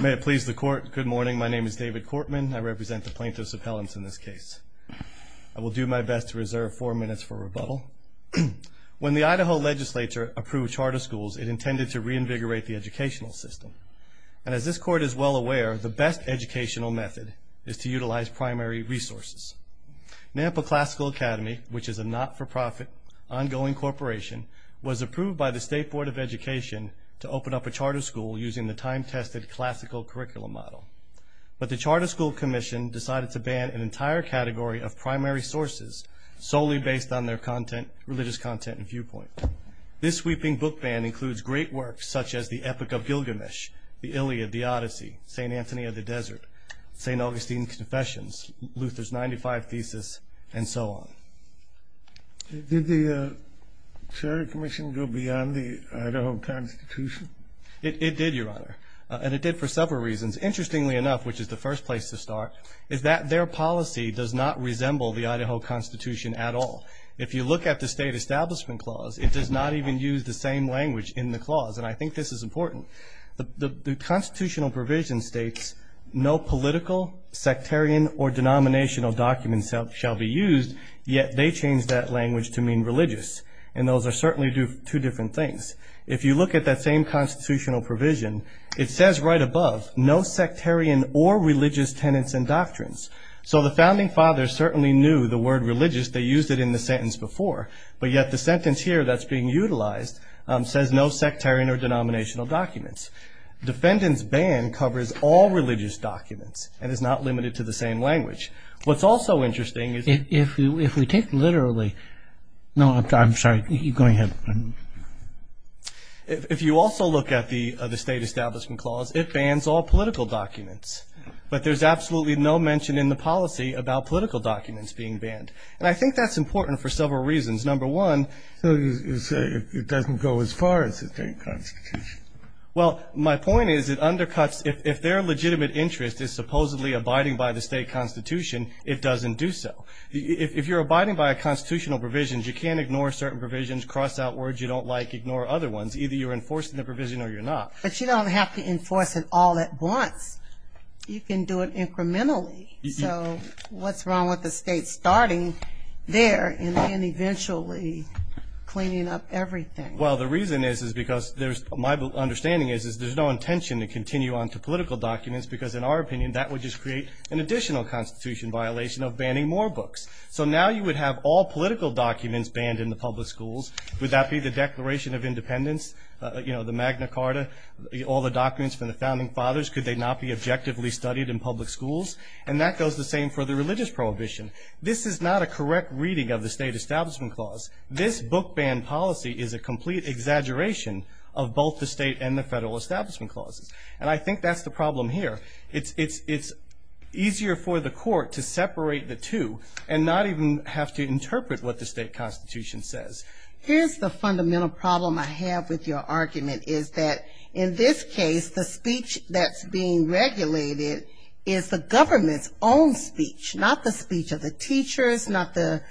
May it please the court, good morning. My name is David Cortman. I represent the plaintiffs' appellants in this case. I will do my best to reserve four minutes for rebuttal. When the Idaho legislature approved charter schools, it intended to reinvigorate the educational system. And as this court is well aware, the best educational method is to utilize primary resources. Nampa Classical Academy, which is a not-for-profit, ongoing corporation, was approved by the State Board of Education to open up a charter school using the time-tested classical curriculum model. But the Charter School Commission decided to ban an entire category of primary sources solely based on their religious content and viewpoint. This sweeping book ban includes great works such as The Epic of Gilgamesh, The Iliad, The Odyssey, St. Anthony of the Desert, St. Augustine's Confessions, Luther's 95 Thesis, and so on. Did the Charter Commission go beyond the Idaho Constitution? It did, Your Honor, and it did for several reasons. Interestingly enough, which is the first place to start, is that their policy does not resemble the Idaho Constitution at all. If you look at the State Establishment Clause, it does not even use the same language in the clause, and I think this is important. The constitutional provision states, no political, sectarian, or denominational documents shall be used, yet they changed that language to mean religious. And those are certainly two different things. If you look at that same constitutional provision, it says right above, no sectarian or religious tenets and doctrines. So the Founding Fathers certainly knew the word religious. They used it in the sentence before. But yet the sentence here that's being utilized says no sectarian or denominational documents. Defendant's ban covers all religious documents and is not limited to the same language. What's also interesting is... If we take literally... No, I'm sorry. Go ahead. If you also look at the State Establishment Clause, it bans all political documents, but there's absolutely no mention in the policy about political documents being banned. And I think that's important for several reasons. Number one... So you say it doesn't go as far as the state constitution. Well, my point is it undercuts... If their legitimate interest is supposedly abiding by the state constitution, it doesn't do so. If you're abiding by a constitutional provision, you can't ignore certain provisions, cross out words you don't like, ignore other ones. Either you're enforcing the provision or you're not. But you don't have to enforce it all at once. You can do it incrementally. So what's wrong with the state starting there and then eventually cleaning up everything? Well, the reason is because there's... My understanding is there's no intention to continue on to political documents because, in our opinion, that would just create an additional constitution violation of banning more books. So now you would have all political documents banned in the public schools. Would that be the Declaration of Independence, the Magna Carta, all the documents from the Founding Fathers? Could they not be objectively studied in public schools? And that goes the same for the religious prohibition. This is not a correct reading of the State Establishment Clause. This book ban policy is a complete exaggeration of both the state and the federal establishment clauses. And I think that's the problem here. It's easier for the court to separate the two and not even have to interpret what the state constitution says. Here's the fundamental problem I have with your argument, is that in this case the speech that's being regulated is the government's own speech, not the speech of the teachers, not the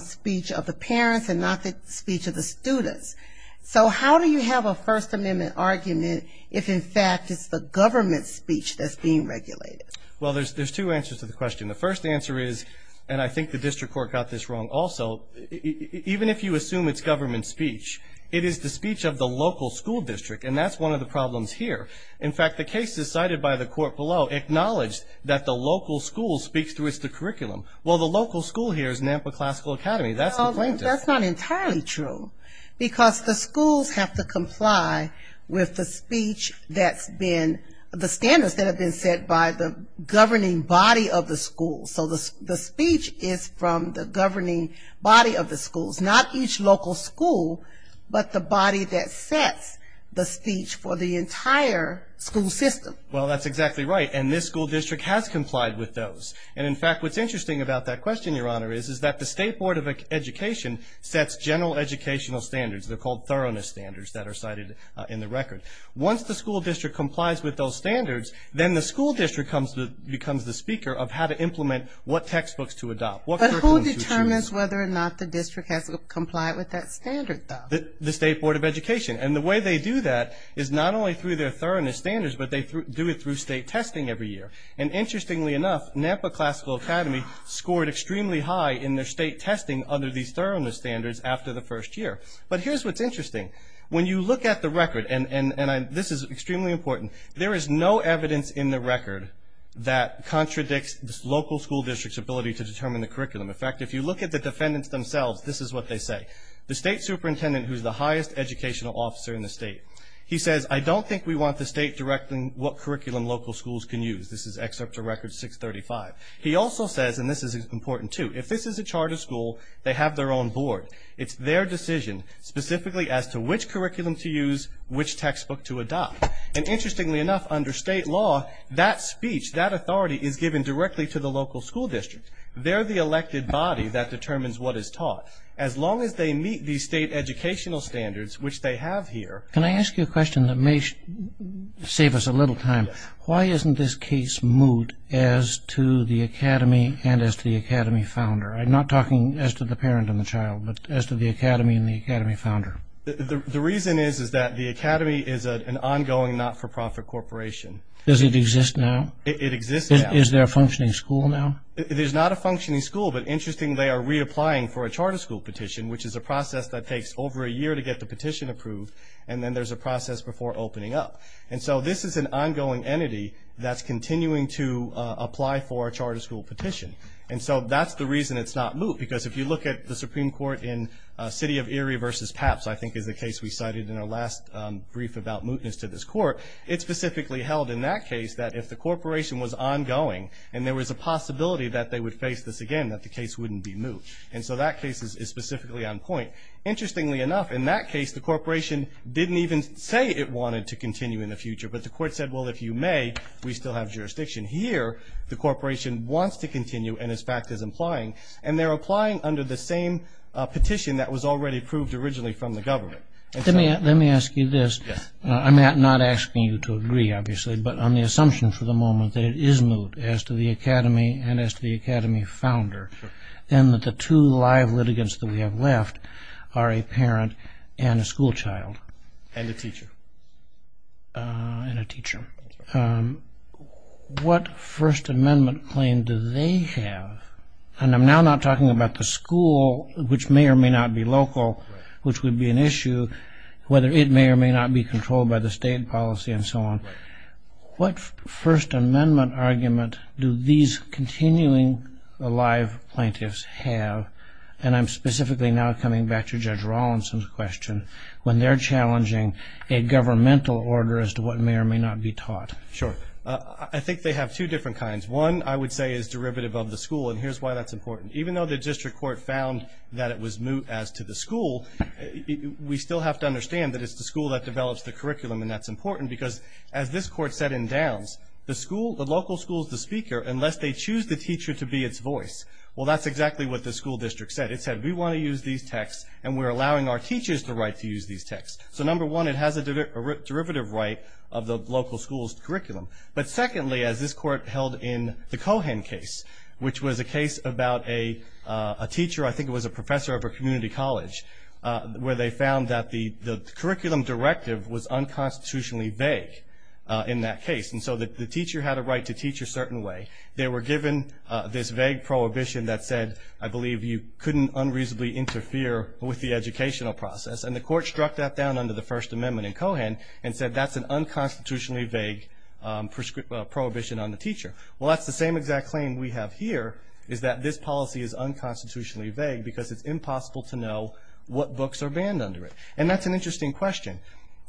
speech of the parents, and not the speech of the students. So how do you have a First Amendment argument if, in fact, it's the government's speech that's being regulated? Well, there's two answers to the question. The first answer is, and I think the district court got this wrong also, even if you assume it's government speech, it is the speech of the local school district, and that's one of the problems here. In fact, the cases cited by the court below acknowledge that the local school speaks to its curriculum. Well, the local school here is Nampa Classical Academy. That's the plaintiff. Well, that's not entirely true, because the schools have to comply with the speech that's been, the standards that have been set by the governing body of the school. So the speech is from the governing body of the schools, not each local school, but the body that sets the speech for the entire school system. Well, that's exactly right, and this school district has complied with those. And, in fact, what's interesting about that question, Your Honor, is that the State Board of Education sets general educational standards. They're called thoroughness standards that are cited in the record. Once the school district complies with those standards, then the school district becomes the speaker of how to implement what textbooks to adopt, what curriculum to choose. It determines whether or not the district has complied with that standard, though. The State Board of Education. And the way they do that is not only through their thoroughness standards, but they do it through state testing every year. And interestingly enough, Nampa Classical Academy scored extremely high in their state testing under these thoroughness standards after the first year. But here's what's interesting. When you look at the record, and this is extremely important, there is no evidence in the record that contradicts the local school district's ability to determine the curriculum. In fact, if you look at the defendants themselves, this is what they say. The state superintendent, who is the highest educational officer in the state, he says, I don't think we want the state directing what curriculum local schools can use. This is Excerpt to Record 635. He also says, and this is important, too, if this is a charter school, they have their own board. It's their decision specifically as to which curriculum to use, which textbook to adopt. And interestingly enough, under state law, that speech, that authority, is given directly to the local school district. They're the elected body that determines what is taught. As long as they meet these state educational standards, which they have here. Can I ask you a question that may save us a little time? Why isn't this case moot as to the academy and as to the academy founder? I'm not talking as to the parent and the child, but as to the academy and the academy founder. The reason is that the academy is an ongoing not-for-profit corporation. Does it exist now? It exists now. Is there a functioning school now? There's not a functioning school, but interestingly, they are reapplying for a charter school petition, which is a process that takes over a year to get the petition approved, and then there's a process before opening up. And so this is an ongoing entity that's continuing to apply for a charter school petition. And so that's the reason it's not moot, because if you look at the Supreme Court in City of Erie v. Papps, I think is the case we cited in our last brief about mootness to this court, it specifically held in that case that if the corporation was ongoing and there was a possibility that they would face this again, that the case wouldn't be moot. And so that case is specifically on point. Interestingly enough, in that case, the corporation didn't even say it wanted to continue in the future, but the court said, well, if you may, we still have jurisdiction here. The corporation wants to continue and, in fact, is applying, and they're applying under the same petition that was already approved originally from the government. Let me ask you this. I'm not asking you to agree, obviously, but on the assumption for the moment that it is moot as to the academy and as to the academy founder, and that the two live litigants that we have left are a parent and a schoolchild. And a teacher. And a teacher. What First Amendment claim do they have? And I'm now not talking about the school, which may or may not be local, which would be an issue, whether it may or may not be controlled by the state policy and so on. What First Amendment argument do these continuing alive plaintiffs have, and I'm specifically now coming back to Judge Rawlinson's question, when they're challenging a governmental order as to what may or may not be taught? Sure. I think they have two different kinds. One, I would say, is derivative of the school, and here's why that's important. Even though the district court found that it was moot as to the school, we still have to understand that it's the school that develops the curriculum, and that's important because, as this court said in Downs, the local school is the speaker unless they choose the teacher to be its voice. Well, that's exactly what the school district said. It said, we want to use these texts, and we're allowing our teachers the right to use these texts. So, number one, it has a derivative right of the local school's curriculum. But secondly, as this court held in the Cohan case, which was a case about a teacher, I think it was a professor of a community college, where they found that the curriculum directive was unconstitutionally vague in that case, and so the teacher had a right to teach a certain way. They were given this vague prohibition that said, I believe you couldn't unreasonably interfere with the educational process, and the court struck that down under the First Amendment in Cohan and said that's an unconstitutionally vague prohibition on the teacher. Well, that's the same exact claim we have here, is that this policy is unconstitutionally vague because it's impossible to know what books are banned under it. And that's an interesting question.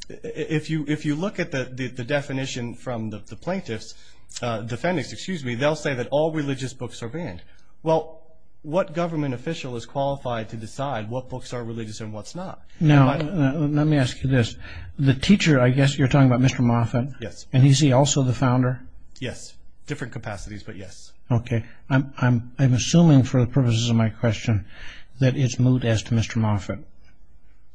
If you look at the definition from the plaintiffs, defendants, excuse me, they'll say that all religious books are banned. Well, what government official is qualified to decide what books are religious and what's not? Now, let me ask you this. The teacher, I guess you're talking about Mr. Moffitt? Yes. And is he also the founder? Yes. Different capacities, but yes. Okay. I'm assuming for the purposes of my question that it's moot as to Mr. Moffitt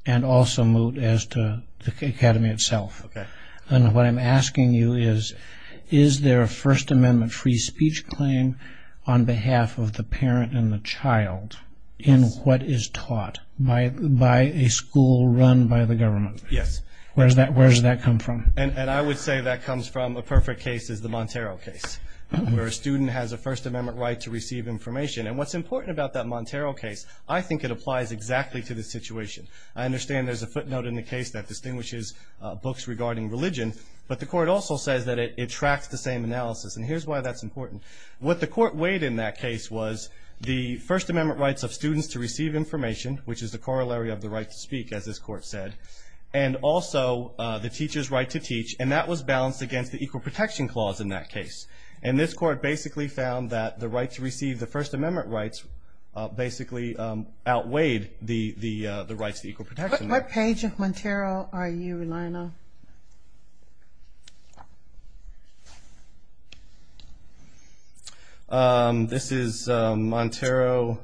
and also moot as to the academy itself. Okay. And what I'm asking you is, is there a First Amendment free speech claim on behalf of the parent and the child in what is taught by a school run by the government? Yes. Where does that come from? And I would say that comes from a perfect case is the Montero case, where a student has a First Amendment right to receive information. And what's important about that Montero case, I think it applies exactly to the situation. I understand there's a footnote in the case that distinguishes books regarding religion, but the court also says that it tracks the same analysis. And here's why that's important. What the court weighed in that case was the First Amendment rights of students to receive information, which is the corollary of the right to speak, as this court said, and also the teacher's right to teach, and that was balanced against the Equal Protection Clause in that case. And this court basically found that the right to receive the First Amendment rights basically outweighed the rights to equal protection. What page of Montero are you relying on? This is Montero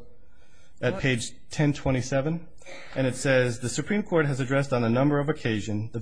at page 1027. And it says, The Supreme Court has addressed on a number of occasions the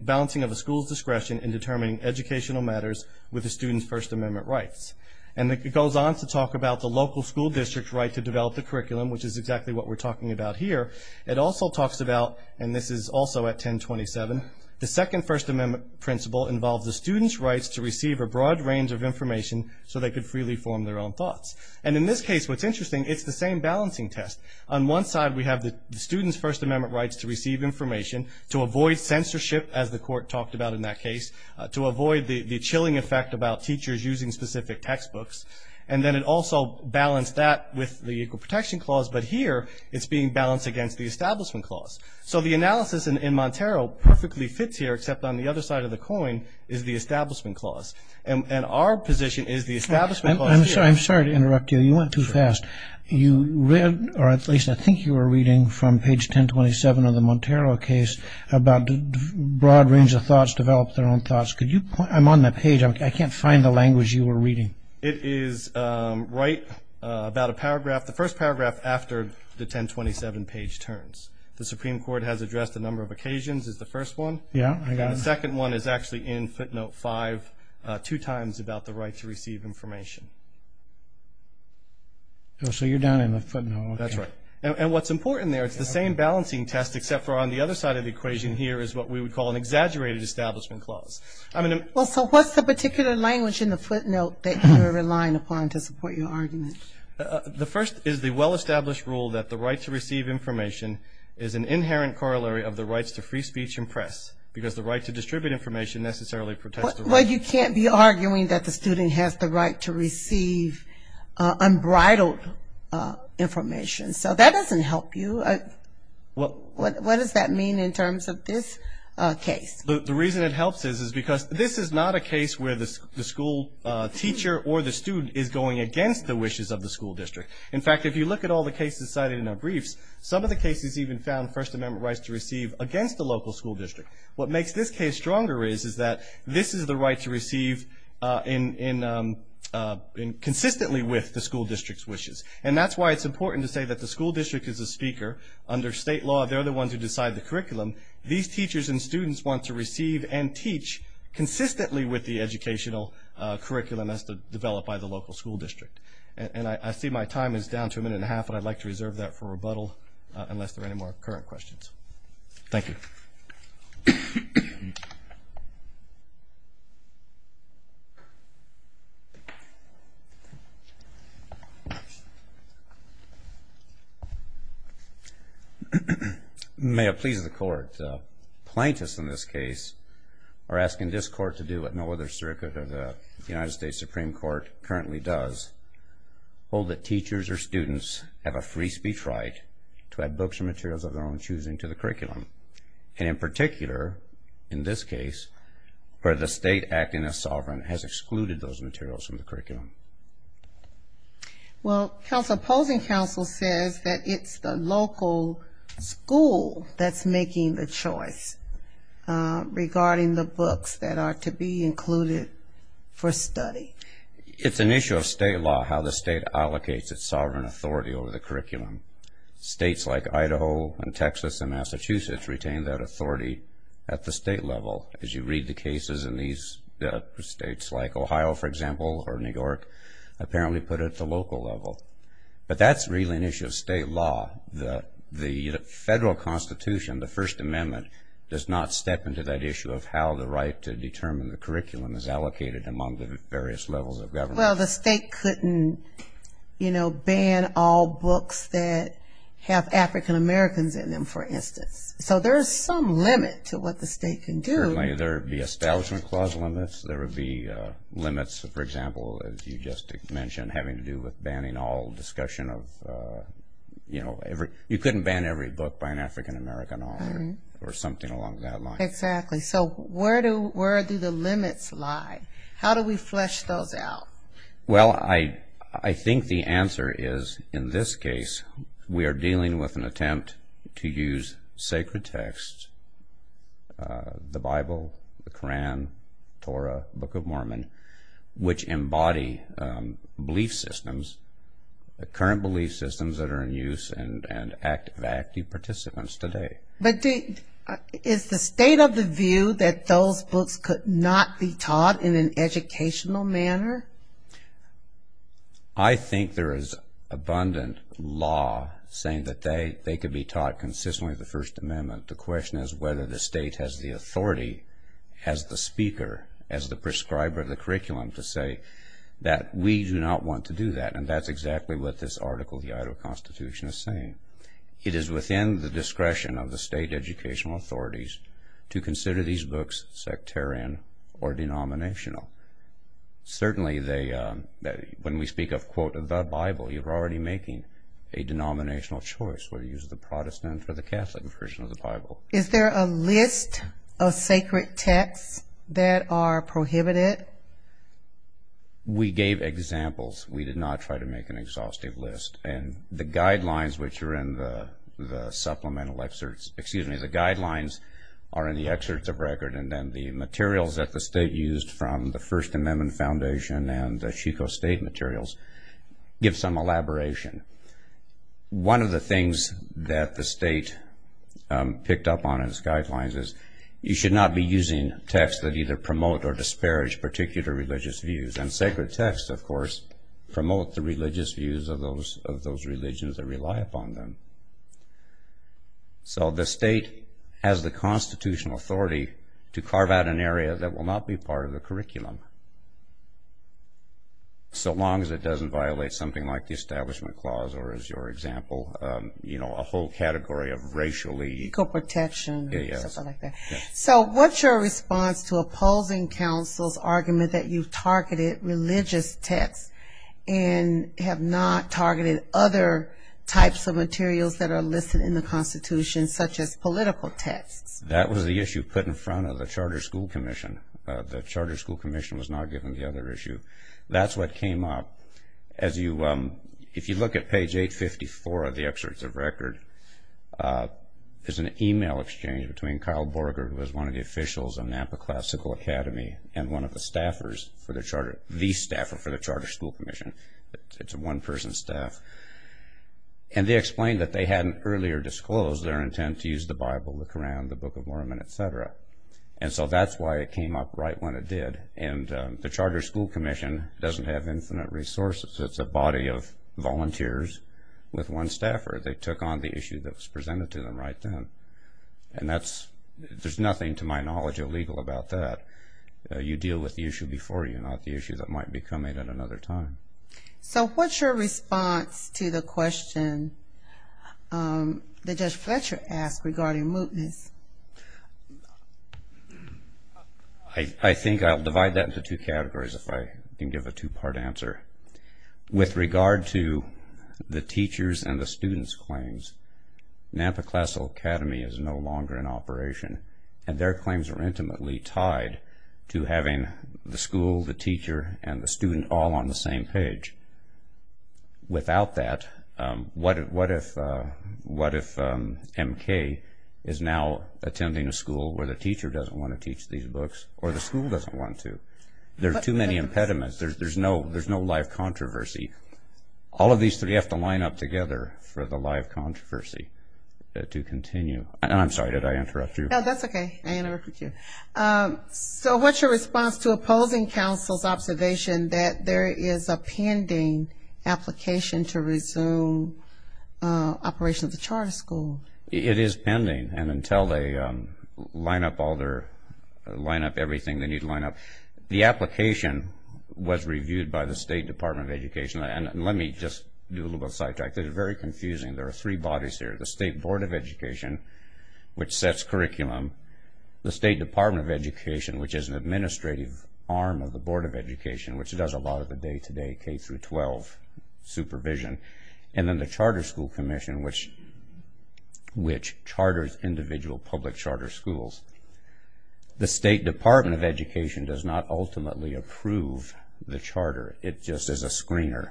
balancing of a school's discretion in determining educational matters with a student's First Amendment rights. And it goes on to talk about the local school district's right to develop the curriculum, which is exactly what we're talking about here. It also talks about, and this is also at 1027, the second First Amendment principle involves the student's rights to receive a broad range of information so they could freely form their own thoughts. And in this case, what's interesting, it's the same balancing test. On one side we have the student's First Amendment rights to receive information, to avoid censorship, as the court talked about in that case, to avoid the chilling effect about teachers using specific textbooks. And then it also balanced that with the Equal Protection Clause, but here it's being balanced against the Establishment Clause. So the analysis in Montero perfectly fits here, except on the other side of the coin is the Establishment Clause. And our position is the Establishment Clause here. I'm sorry to interrupt you. You went too fast. You read, or at least I think you were reading from page 1027 of the Montero case, about the broad range of thoughts, develop their own thoughts. I'm on that page. I can't find the language you were reading. It is right about a paragraph. The first paragraph after the 1027 page turns. The Supreme Court has addressed a number of occasions is the first one. Yeah, I got it. And the second one is actually in footnote 5, two times about the right to receive information. So you're down in the footnote. That's right. And what's important there, it's the same balancing test, except for on the other side of the equation here is what we would call an exaggerated Establishment Clause. to support your argument? The first is the well-established rule that the right to receive information is an inherent corollary of the rights to free speech and press, because the right to distribute information necessarily protects the right to Well, you can't be arguing that the student has the right to receive unbridled information. So that doesn't help you. What does that mean in terms of this case? The reason it helps is because this is not a case where the school teacher or the student is going against the wishes of the school district. In fact, if you look at all the cases cited in our briefs, some of the cases even found First Amendment rights to receive against the local school district. What makes this case stronger is that this is the right to receive consistently with the school district's wishes. And that's why it's important to say that the school district is the speaker. Under state law, they're the ones who decide the curriculum. These teachers and students want to receive and teach consistently with the curriculum developed by the local school district. And I see my time is down to a minute and a half, but I'd like to reserve that for rebuttal unless there are any more current questions. Thank you. May it please the Court, plaintiffs in this case are asking this Court to do what no other circuit of the United States Supreme Court currently does, hold that teachers or students have a free speech right to add books or materials of their own choosing to the curriculum. And in particular, in this case, where the state acting as sovereign has excluded those materials from the curriculum. Well, opposing counsel says that it's the local school that's making the It's an issue of state law how the state allocates its sovereign authority over the curriculum. States like Idaho and Texas and Massachusetts retain that authority at the state level. As you read the cases in these states like Ohio, for example, or New York apparently put it at the local level. But that's really an issue of state law. The federal constitution, the First Amendment, does not step into that issue of how the right to determine the curriculum is Well, the state couldn't, you know, ban all books that have African-Americans in them, for instance. So there's some limit to what the state can do. Certainly there would be establishment clause limits. There would be limits, for example, as you just mentioned having to do with banning all discussion of, you know, you couldn't ban every book by an African-American author or something along that line. Exactly. So where do the limits lie? How do we flesh those out? Well, I think the answer is in this case we are dealing with an attempt to use sacred texts, the Bible, the Koran, Torah, Book of Mormon, which embody belief systems, the current belief systems that are in use and active participants today. But is the state of the view that those books could not be taught in an educational manner? I think there is abundant law saying that they could be taught consistently with the First Amendment. The question is whether the state has the authority as the speaker, as the prescriber of the curriculum, to say that we do not want to do that. And that's exactly what this article of the Idaho Constitution is saying. It is within the discretion of the state educational authorities to consider these books sectarian or denominational. Certainly when we speak of, quote, the Bible, you're already making a denominational choice, whether you use the Protestant or the Catholic version of the Bible. Is there a list of sacred texts that are prohibited? We gave examples. We did not try to make an exhaustive list. And the guidelines, which are in the supplemental excerpts, excuse me, the guidelines are in the excerpts of record. And then the materials that the state used from the First Amendment Foundation and the Chico State materials give some elaboration. One of the things that the state picked up on as guidelines is you should not be using texts that either promote or disparage particular religious views. And sacred texts, of course, promote the religious views of those religions that rely upon them. So the state has the constitutional authority to carve out an area that will not be part of the curriculum. So long as it doesn't violate something like the Establishment Clause, or as your example, you know, a whole category of racially... Ecoprotection, something like that. So what's your response to opposing counsel's argument that you've targeted religious texts and have not targeted other types of materials that are listed in the Constitution, such as political texts? That was the issue put in front of the Charter School Commission. The Charter School Commission was not given the other issue. That's what came up. If you look at page 854 of the excerpts of record, there's an email exchange between Kyle Borger, who was one of the officials of Napa Classical Academy, and one of the staffers for the Charter... the staffer for the Charter School Commission. It's a one-person staff. And they explained that they hadn't earlier disclosed their intent to use the Bible, the Koran, the Book of Mormon, et cetera. And so that's why it came up right when it did. And the Charter School Commission doesn't have infinite resources. It's a body of volunteers with one staffer. They took on the issue that was presented to them right then. And there's nothing, to my knowledge, illegal about that. You deal with the issue before you, not the issue that might be coming at another time. So what's your response to the question that Judge Fletcher asked regarding mootness? I think I'll divide that into two categories if I can give a two-part answer. With regard to the teachers and the students' claims, Napa Classical Academy is no longer in operation, and their claims are intimately tied to having the school, the teacher, and the student all on the same page. Without that, what if M.K. is now attending a school where the teacher doesn't want to teach these books or the school doesn't want to? There are too many impediments. There's no live controversy. All of these three have to line up together for the live controversy to continue. And I'm sorry, did I interrupt you? No, that's okay. I interrupted you. So what's your response to opposing counsel's observation that there is a pending application to resume operations at the charter school? It is pending. And until they line up everything, they need to line up. The application was reviewed by the State Department of Education. And let me just do a little bit of sidetrack. This is very confusing. There are three bodies here. The State Board of Education, which sets curriculum. The State Department of Education, which is an administrative arm of the Board of Education, which does a lot of the day-to-day K-12 supervision. And then the Charter School Commission, which charters individual public charter schools. The State Department of Education does not ultimately approve the charter. It just is a screener.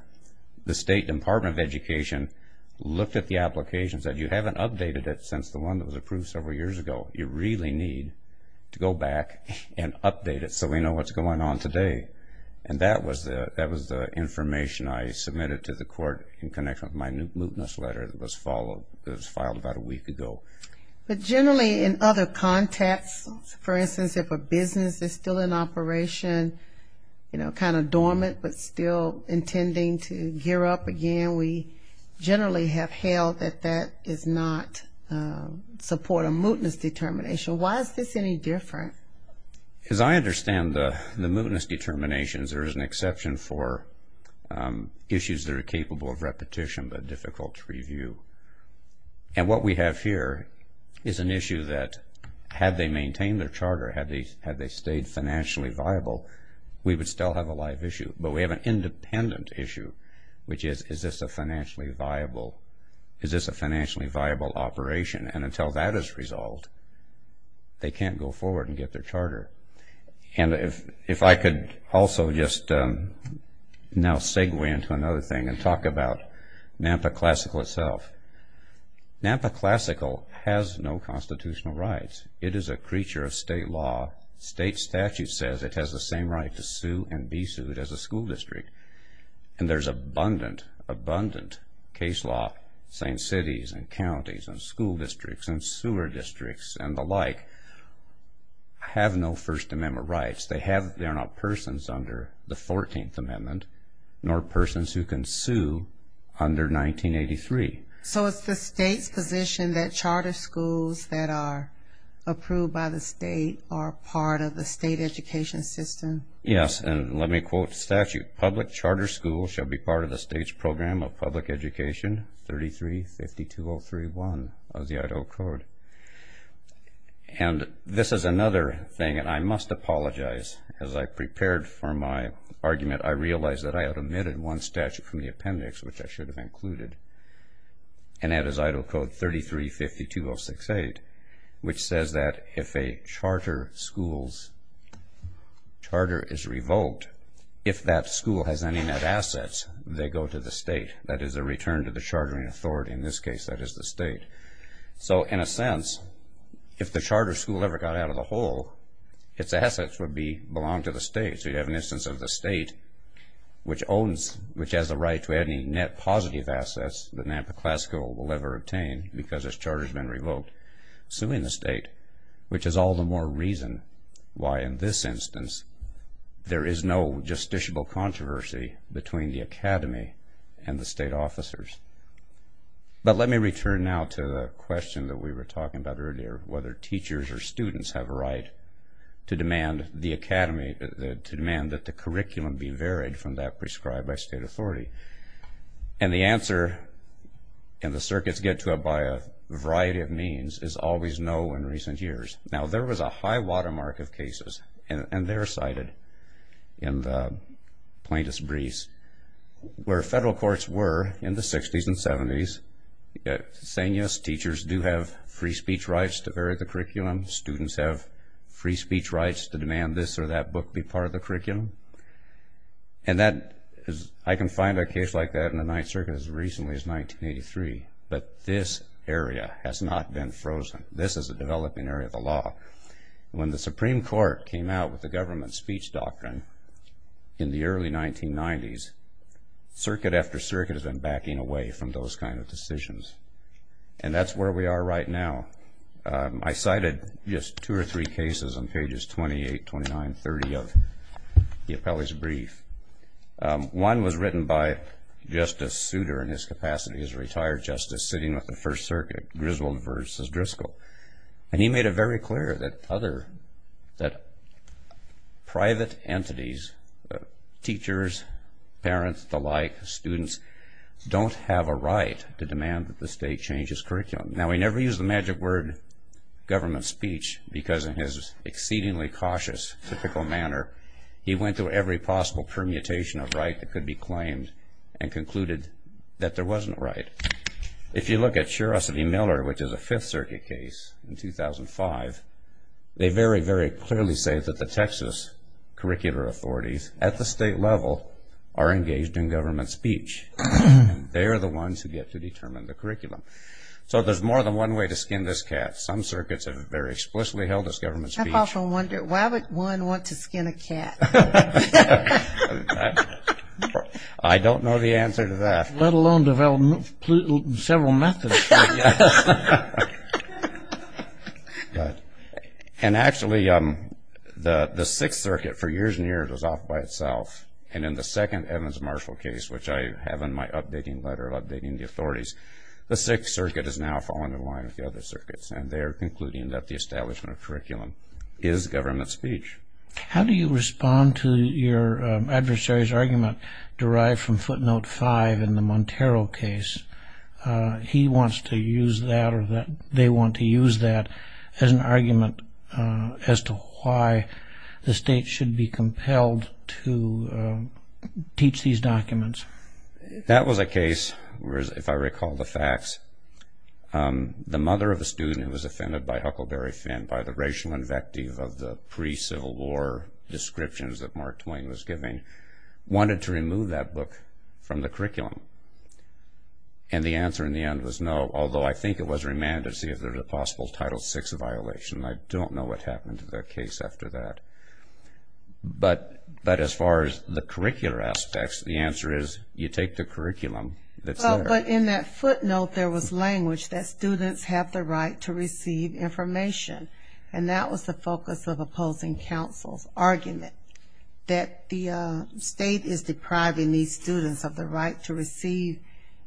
The State Department of Education looked at the application and said, you haven't updated it since the one that was approved several years ago. You really need to go back and update it so we know what's going on today. And that was the information I submitted to the court in connection with my mootness letter that was filed about a week ago. But generally in other contexts, for instance, if a business is still in operation, you know, kind of dormant but still intending to gear up again, we generally have held that that does not support a mootness determination. Why is this any different? As I understand the mootness determinations, there is an exception for issues that are capable of repetition but difficult to review. And what we have here is an issue that had they maintained their charter, had they stayed financially viable, we would still have a live issue. But we have an independent issue, which is, is this a financially viable operation? And until that is resolved, they can't go forward and get their charter. And if I could also just now segue into another thing and talk about NAMPA Classical itself. NAMPA Classical has no constitutional rights. It is a creature of state law. State statute says it has the same right to sue and be sued as a school district. And there's abundant, abundant case law saying cities and counties and school districts and sewer districts and the like have no First Amendment rights. They're not persons under the 14th Amendment, nor persons who can sue under 1983. So it's the state's position that charter schools that are approved by the state are part of the state education system? Yes. And let me quote statute. Public charter schools shall be part of the state's program of public education, 33-5203-1 of the Idaho Code. And this is another thing, and I must apologize. As I prepared for my argument, I realized that I had omitted one statute from the appendix, which I should have included. And that is Idaho Code 33-52068, which says that if a charter school's charter is revoked, if that school has any net assets, they go to the state. That is a return to the chartering authority. In this case, that is the state. So in a sense, if the charter school ever got out of the hole, its assets would belong to the state. So you have an instance of the state, which owns, which has a right to any net positive assets the Nampa class school will ever obtain because its charter's been revoked, suing the state, which is all the more reason why in this instance there is no justiciable controversy between the academy and the state officers. But let me return now to the question that we were talking about earlier, whether teachers or students have a right to demand that the curriculum be varied from that prescribed by state authority. And the answer, and the circuits get to it by a variety of means, is always no in recent years. Now, there was a high-water mark of cases, and they're cited in the plaintiff's briefs, where teachers do have free speech rights to vary the curriculum. Students have free speech rights to demand this or that book be part of the curriculum. And I can find a case like that in the Ninth Circuit as recently as 1983. But this area has not been frozen. This is a developing area of the law. When the Supreme Court came out with the government speech doctrine in the early 1990s, circuit after circuit has been backing away from those kind of That's where we are right now. I cited just two or three cases on pages 28, 29, 30 of the appellee's brief. One was written by Justice Souter in his capacity as a retired justice sitting with the First Circuit, Griswold versus Driscoll. And he made it very clear that private entities, teachers, parents, the like, students don't have a right to demand that the state change its curriculum. Now, he never used the magic word, government speech, because in his exceedingly cautious, typical manner, he went through every possible permutation of right that could be claimed and concluded that there wasn't a right. If you look at Sherosity Miller, which is a Fifth Circuit case in 2005, they very, very clearly say that the Texas curricular authorities at the state level are engaged in government speech. They are the ones who get to determine the curriculum. So there's more than one way to skin this cat. Some circuits have very explicitly held this government speech. I've often wondered, why would one want to skin a cat? I don't know the answer to that. Let alone develop several methods. And actually, the Sixth Circuit, for years and years, was off by itself. And in the second Evans-Marshall case, which I have in my updating letter updating the authorities, the Sixth Circuit has now fallen in line with the other circuits, and they're concluding that the establishment of curriculum is government speech. How do you respond to your adversary's argument derived from footnote 5 in the Montero case? He wants to use that, or they want to use that, as an argument as to why the state should be compelled to teach these documents. That was a case where, if I recall the facts, the mother of a student who was offended by Huckleberry Finn, by the racial invective of the pre-Civil War descriptions that Mark Twain was giving, wanted to remove that book from the curriculum. And the answer in the end was no, although I think it was remanded to see if there was a possible Title VI violation. I don't know what happened to the case after that. But as far as the curricular aspects, the answer is you take the curriculum that's there. But in that footnote, there was language that students have the right to receive information. And that was the focus of opposing counsel's argument, that the state is depriving these students of the right to receive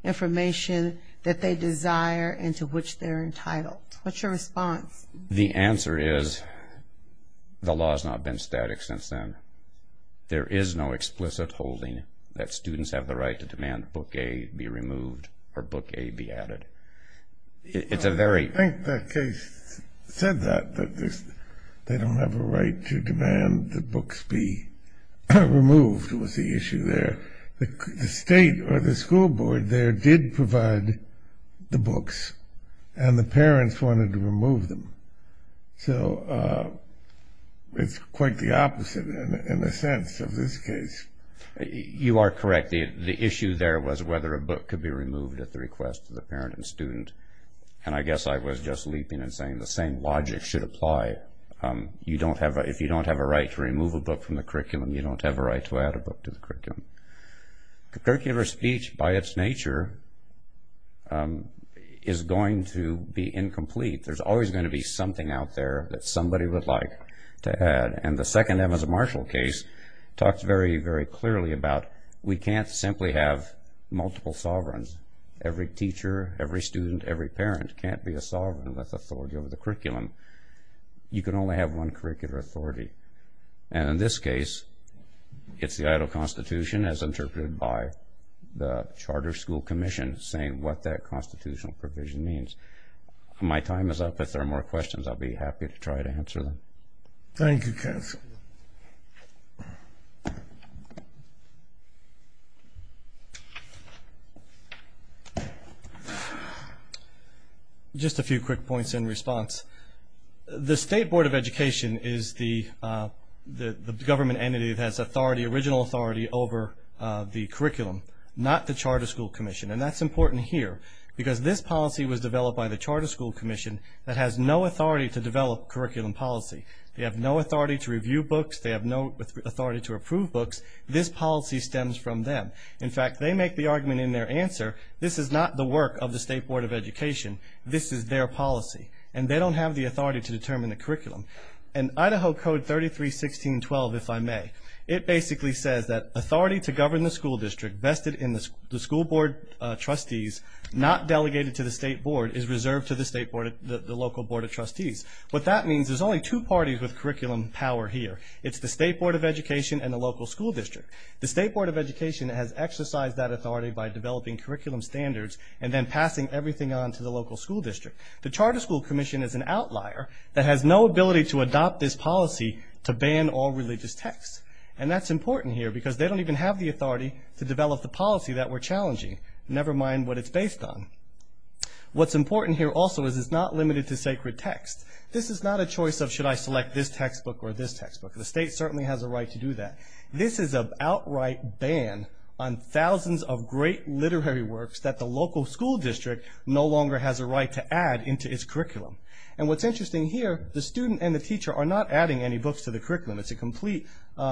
information that they desire and to which they're entitled. What's your response? The answer is the law has not been static since then. There is no explicit holding that students have the right to demand Book A be removed or Book A be added. I think the case said that, that they don't have a right to demand that books be removed was the issue there. The state or the school board there did provide the books, and the parents wanted to remove them. So it's quite the opposite, in a sense, of this case. You are correct. The issue there was whether a book could be removed at the request of the parent and student. And I guess I was just leaping and saying the same logic should apply. If you don't have a right to remove a book from the curriculum, you don't have a right to add a book to the curriculum. Curricular speech, by its nature, is going to be incomplete. There's always going to be something out there that somebody would like to add. And the second Evans-Marshall case talks very, very clearly about we can't simply have multiple sovereigns. Every teacher, every student, every parent can't be a sovereign with authority over the curriculum. You can only have one curricular authority. And in this case, it's the Idaho Constitution, as interpreted by the Charter School Commission, saying what that constitutional provision means. My time is up. If there are more questions, I'll be happy to try to answer them. Thank you, counsel. Just a few quick points in response. The State Board of Education is the government entity that has original authority over the curriculum, not the Charter School Commission. And that's important here because this policy was developed by the Charter School Commission that has no authority to develop curriculum policy. They have no authority to review books. They have no authority to approve books. This policy stems from them. In fact, they make the argument in their answer, this is not the work of the State Board of Education. This is their policy. And they don't have the authority to determine the curriculum. And Idaho Code 33.16.12, if I may, it basically says that authority to govern the school district vested in the school board trustees, not delegated to the state board, is reserved to the local board of trustees. What that means is there's only two parties with curriculum power here. It's the State Board of Education and the local school district. The State Board of Education has exercised that authority by developing curriculum standards and then passing everything on to the local school district. The Charter School Commission is an outlier that has no ability to adopt this policy to ban all religious texts. And that's important here because they don't even have the authority to develop the policy that we're challenging, never mind what it's based on. What's important here also is it's not limited to sacred texts. This is not a choice of should I select this textbook or this textbook. The state certainly has a right to do that. This is an outright ban on thousands of great literary works that the local school district no longer has a right to add into its curriculum. And what's interesting here, the student and the teacher are not adding any books to the curriculum. It's a complete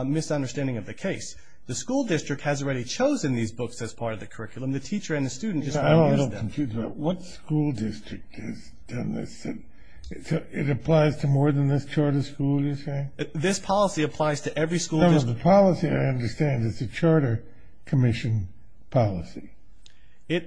misunderstanding of the case. The school district has already chosen these books as part of the curriculum. The teacher and the student just don't use them. I'm a little confused about what school district has done this. It applies to more than this charter school, you're saying? This policy applies to every school district. No, no, the policy I understand is the Charter Commission policy. It's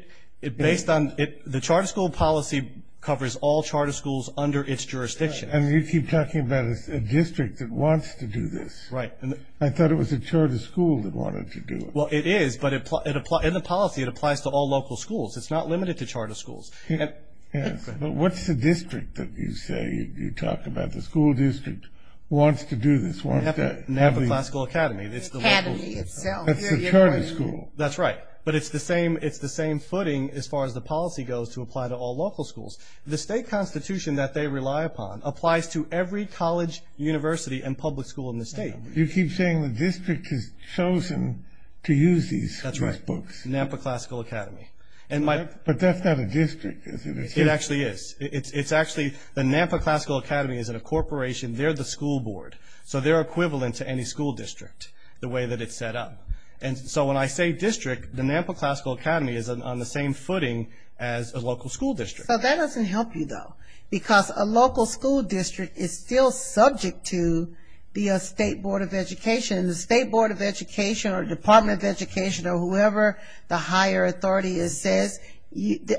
based on the charter school policy covers all charter schools under its jurisdiction. And you keep talking about a district that wants to do this. Right. I thought it was the charter school that wanted to do it. Well, it is, but in the policy it applies to all local schools. It's not limited to charter schools. Yes, but what's the district that you say you talk about the school district wants to do this? Napa Classical Academy. The academy itself. That's the charter school. That's right. But it's the same footing as far as the policy goes to apply to all local schools. The state constitution that they rely upon applies to every college, university, and public school in the state. You keep saying the district has chosen to use these books. Napa Classical Academy. But that's not a district, is it? It actually is. It's actually the Napa Classical Academy is a corporation. They're the school board, so they're equivalent to any school district the way that it's set up. And so when I say district, the Napa Classical Academy is on the same footing as a local school district. So that doesn't help you, though, because a local school district is still subject to the state board of education, and the state board of education or department of education or whoever the higher authority is says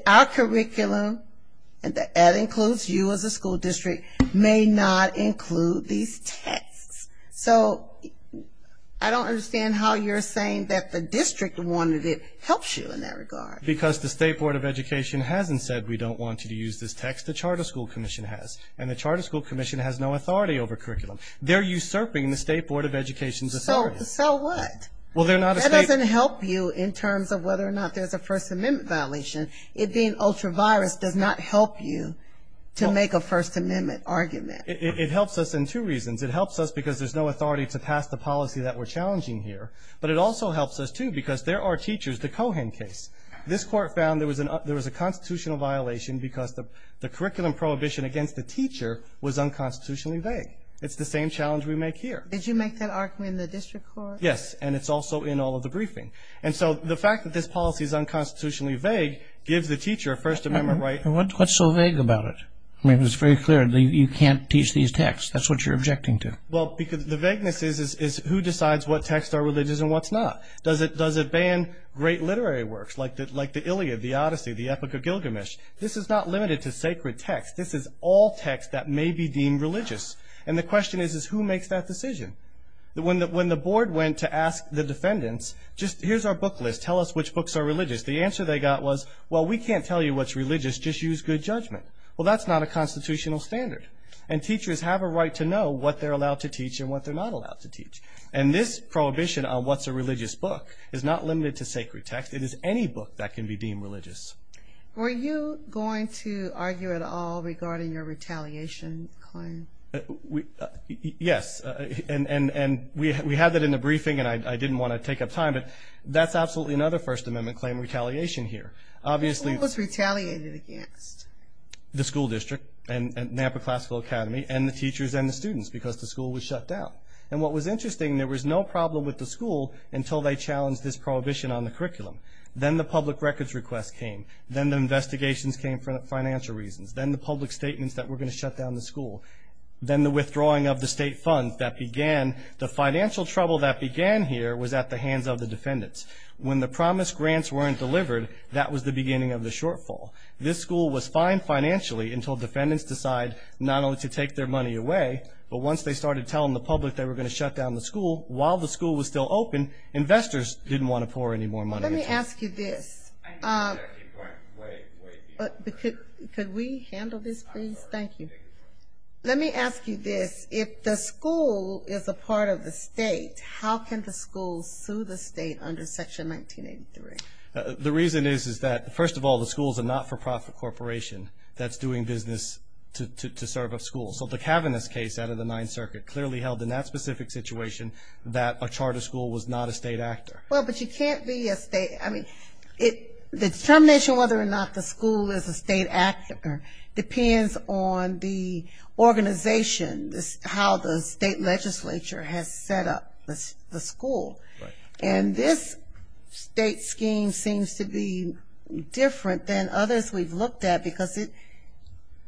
our curriculum, and that includes you as a school district, may not include these texts. So I don't understand how you're saying that the district wanted it helps you in that regard. Because the state board of education hasn't said we don't want you to use this text. The charter school commission has, and the charter school commission has no authority over curriculum. They're usurping the state board of education's authority. So what? Well, they're not a state. That doesn't help you in terms of whether or not there's a First Amendment violation. It being ultra-virus does not help you to make a First Amendment argument. It helps us in two reasons. It helps us because there's no authority to pass the policy that we're challenging here, but it also helps us, too, because there are teachers. The Cohen case, this court found there was a constitutional violation because the curriculum prohibition against the teacher was unconstitutionally vague. It's the same challenge we make here. Did you make that argument in the district court? Yes, and it's also in all of the briefing. And so the fact that this policy is unconstitutionally vague gives the teacher a First Amendment right. And what's so vague about it? I mean, it's very clear you can't teach these texts. That's what you're objecting to. Well, because the vagueness is who decides what texts are religious and what's not. Does it ban great literary works like the Iliad, the Odyssey, the Epic of Gilgamesh? This is not limited to sacred texts. This is all texts that may be deemed religious. And the question is, is who makes that decision? When the board went to ask the defendants, just here's our book list. Tell us which books are religious. The answer they got was, well, we can't tell you what's religious. Just use good judgment. Well, that's not a constitutional standard. And teachers have a right to know what they're allowed to teach and what they're not allowed to teach. And this prohibition on what's a religious book is not limited to sacred texts. It is any book that can be deemed religious. Were you going to argue at all regarding your retaliation claim? Yes. And we had that in the briefing, and I didn't want to take up time. But that's absolutely another First Amendment claim, retaliation here. Obviously— Who was retaliated against? The school district and Nampa Classical Academy and the teachers and the students because the school was shut down. And what was interesting, there was no problem with the school until they challenged this prohibition on the curriculum. Then the public records request came. Then the investigations came for financial reasons. Then the public statements that we're going to shut down the school. Then the withdrawing of the state funds that began. The financial trouble that began here was at the hands of the defendants. When the promised grants weren't delivered, that was the beginning of the shortfall. This school was fine financially until defendants decide not only to take their money away, but once they started telling the public they were going to shut down the school, while the school was still open, investors didn't want to pour any more money into it. Let me ask you this. I know that. Wait, wait. Could we handle this, please? I'm sorry. Thank you. Let me ask you this. If the school is a part of the state, how can the school sue the state under Section 1983? The reason is that, first of all, the school is a not-for-profit corporation that's doing business to serve a school. So the Kavanaugh's case out of the Ninth Circuit clearly held in that specific situation that a charter school was not a state actor. Well, but you can't be a state. I mean, the determination whether or not the school is a state actor depends on the organization, how the state legislature has set up the school. Right. And this state scheme seems to be different than others we've looked at, because it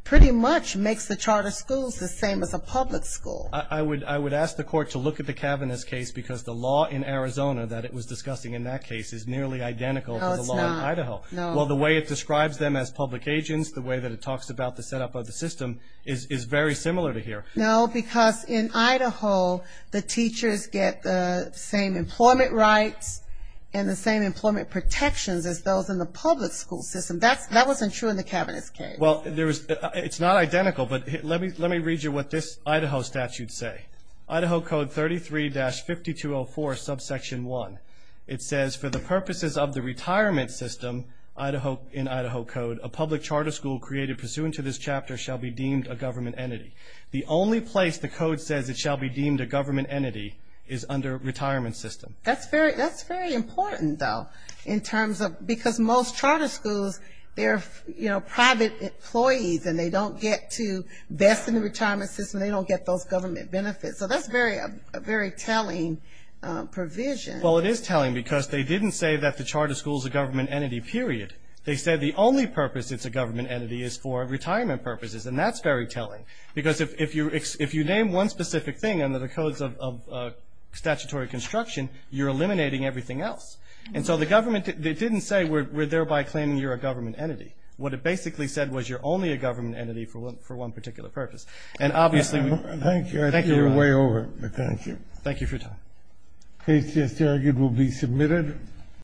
pretty much makes the charter schools the same as a public school. I would ask the Court to look at the Kavanaugh's case, because the law in Arizona that it was discussing in that case is nearly identical to the law in Idaho. No, it's not. Well, the way it describes them as public agents, the way that it talks about the setup of the system is very similar to here. No, because in Idaho the teachers get the same employment rights and the same employment protections as those in the public school system. That wasn't true in the Kavanaugh's case. Well, it's not identical, but let me read you what this Idaho statute say. Idaho Code 33-5204, subsection 1. It says, for the purposes of the retirement system in Idaho Code, a public charter school created pursuant to this chapter shall be deemed a government entity. The only place the Code says it shall be deemed a government entity is under retirement system. That's very important, though, in terms of ñ because most charter schools, they're private employees and they don't get to vest in the retirement system, they don't get those government benefits. So that's a very telling provision. Well, it is telling, because they didn't say that the charter school is a government entity, period. They said the only purpose it's a government entity is for retirement purposes, and that's very telling. Because if you name one specific thing under the codes of statutory construction, you're eliminating everything else. And so the government didn't say we're thereby claiming you're a government entity. What it basically said was you're only a government entity for one particular purpose. And obviously ñ Thank you. I see you're way over. But thank you. Thank you for your time. Case just argued will be submitted.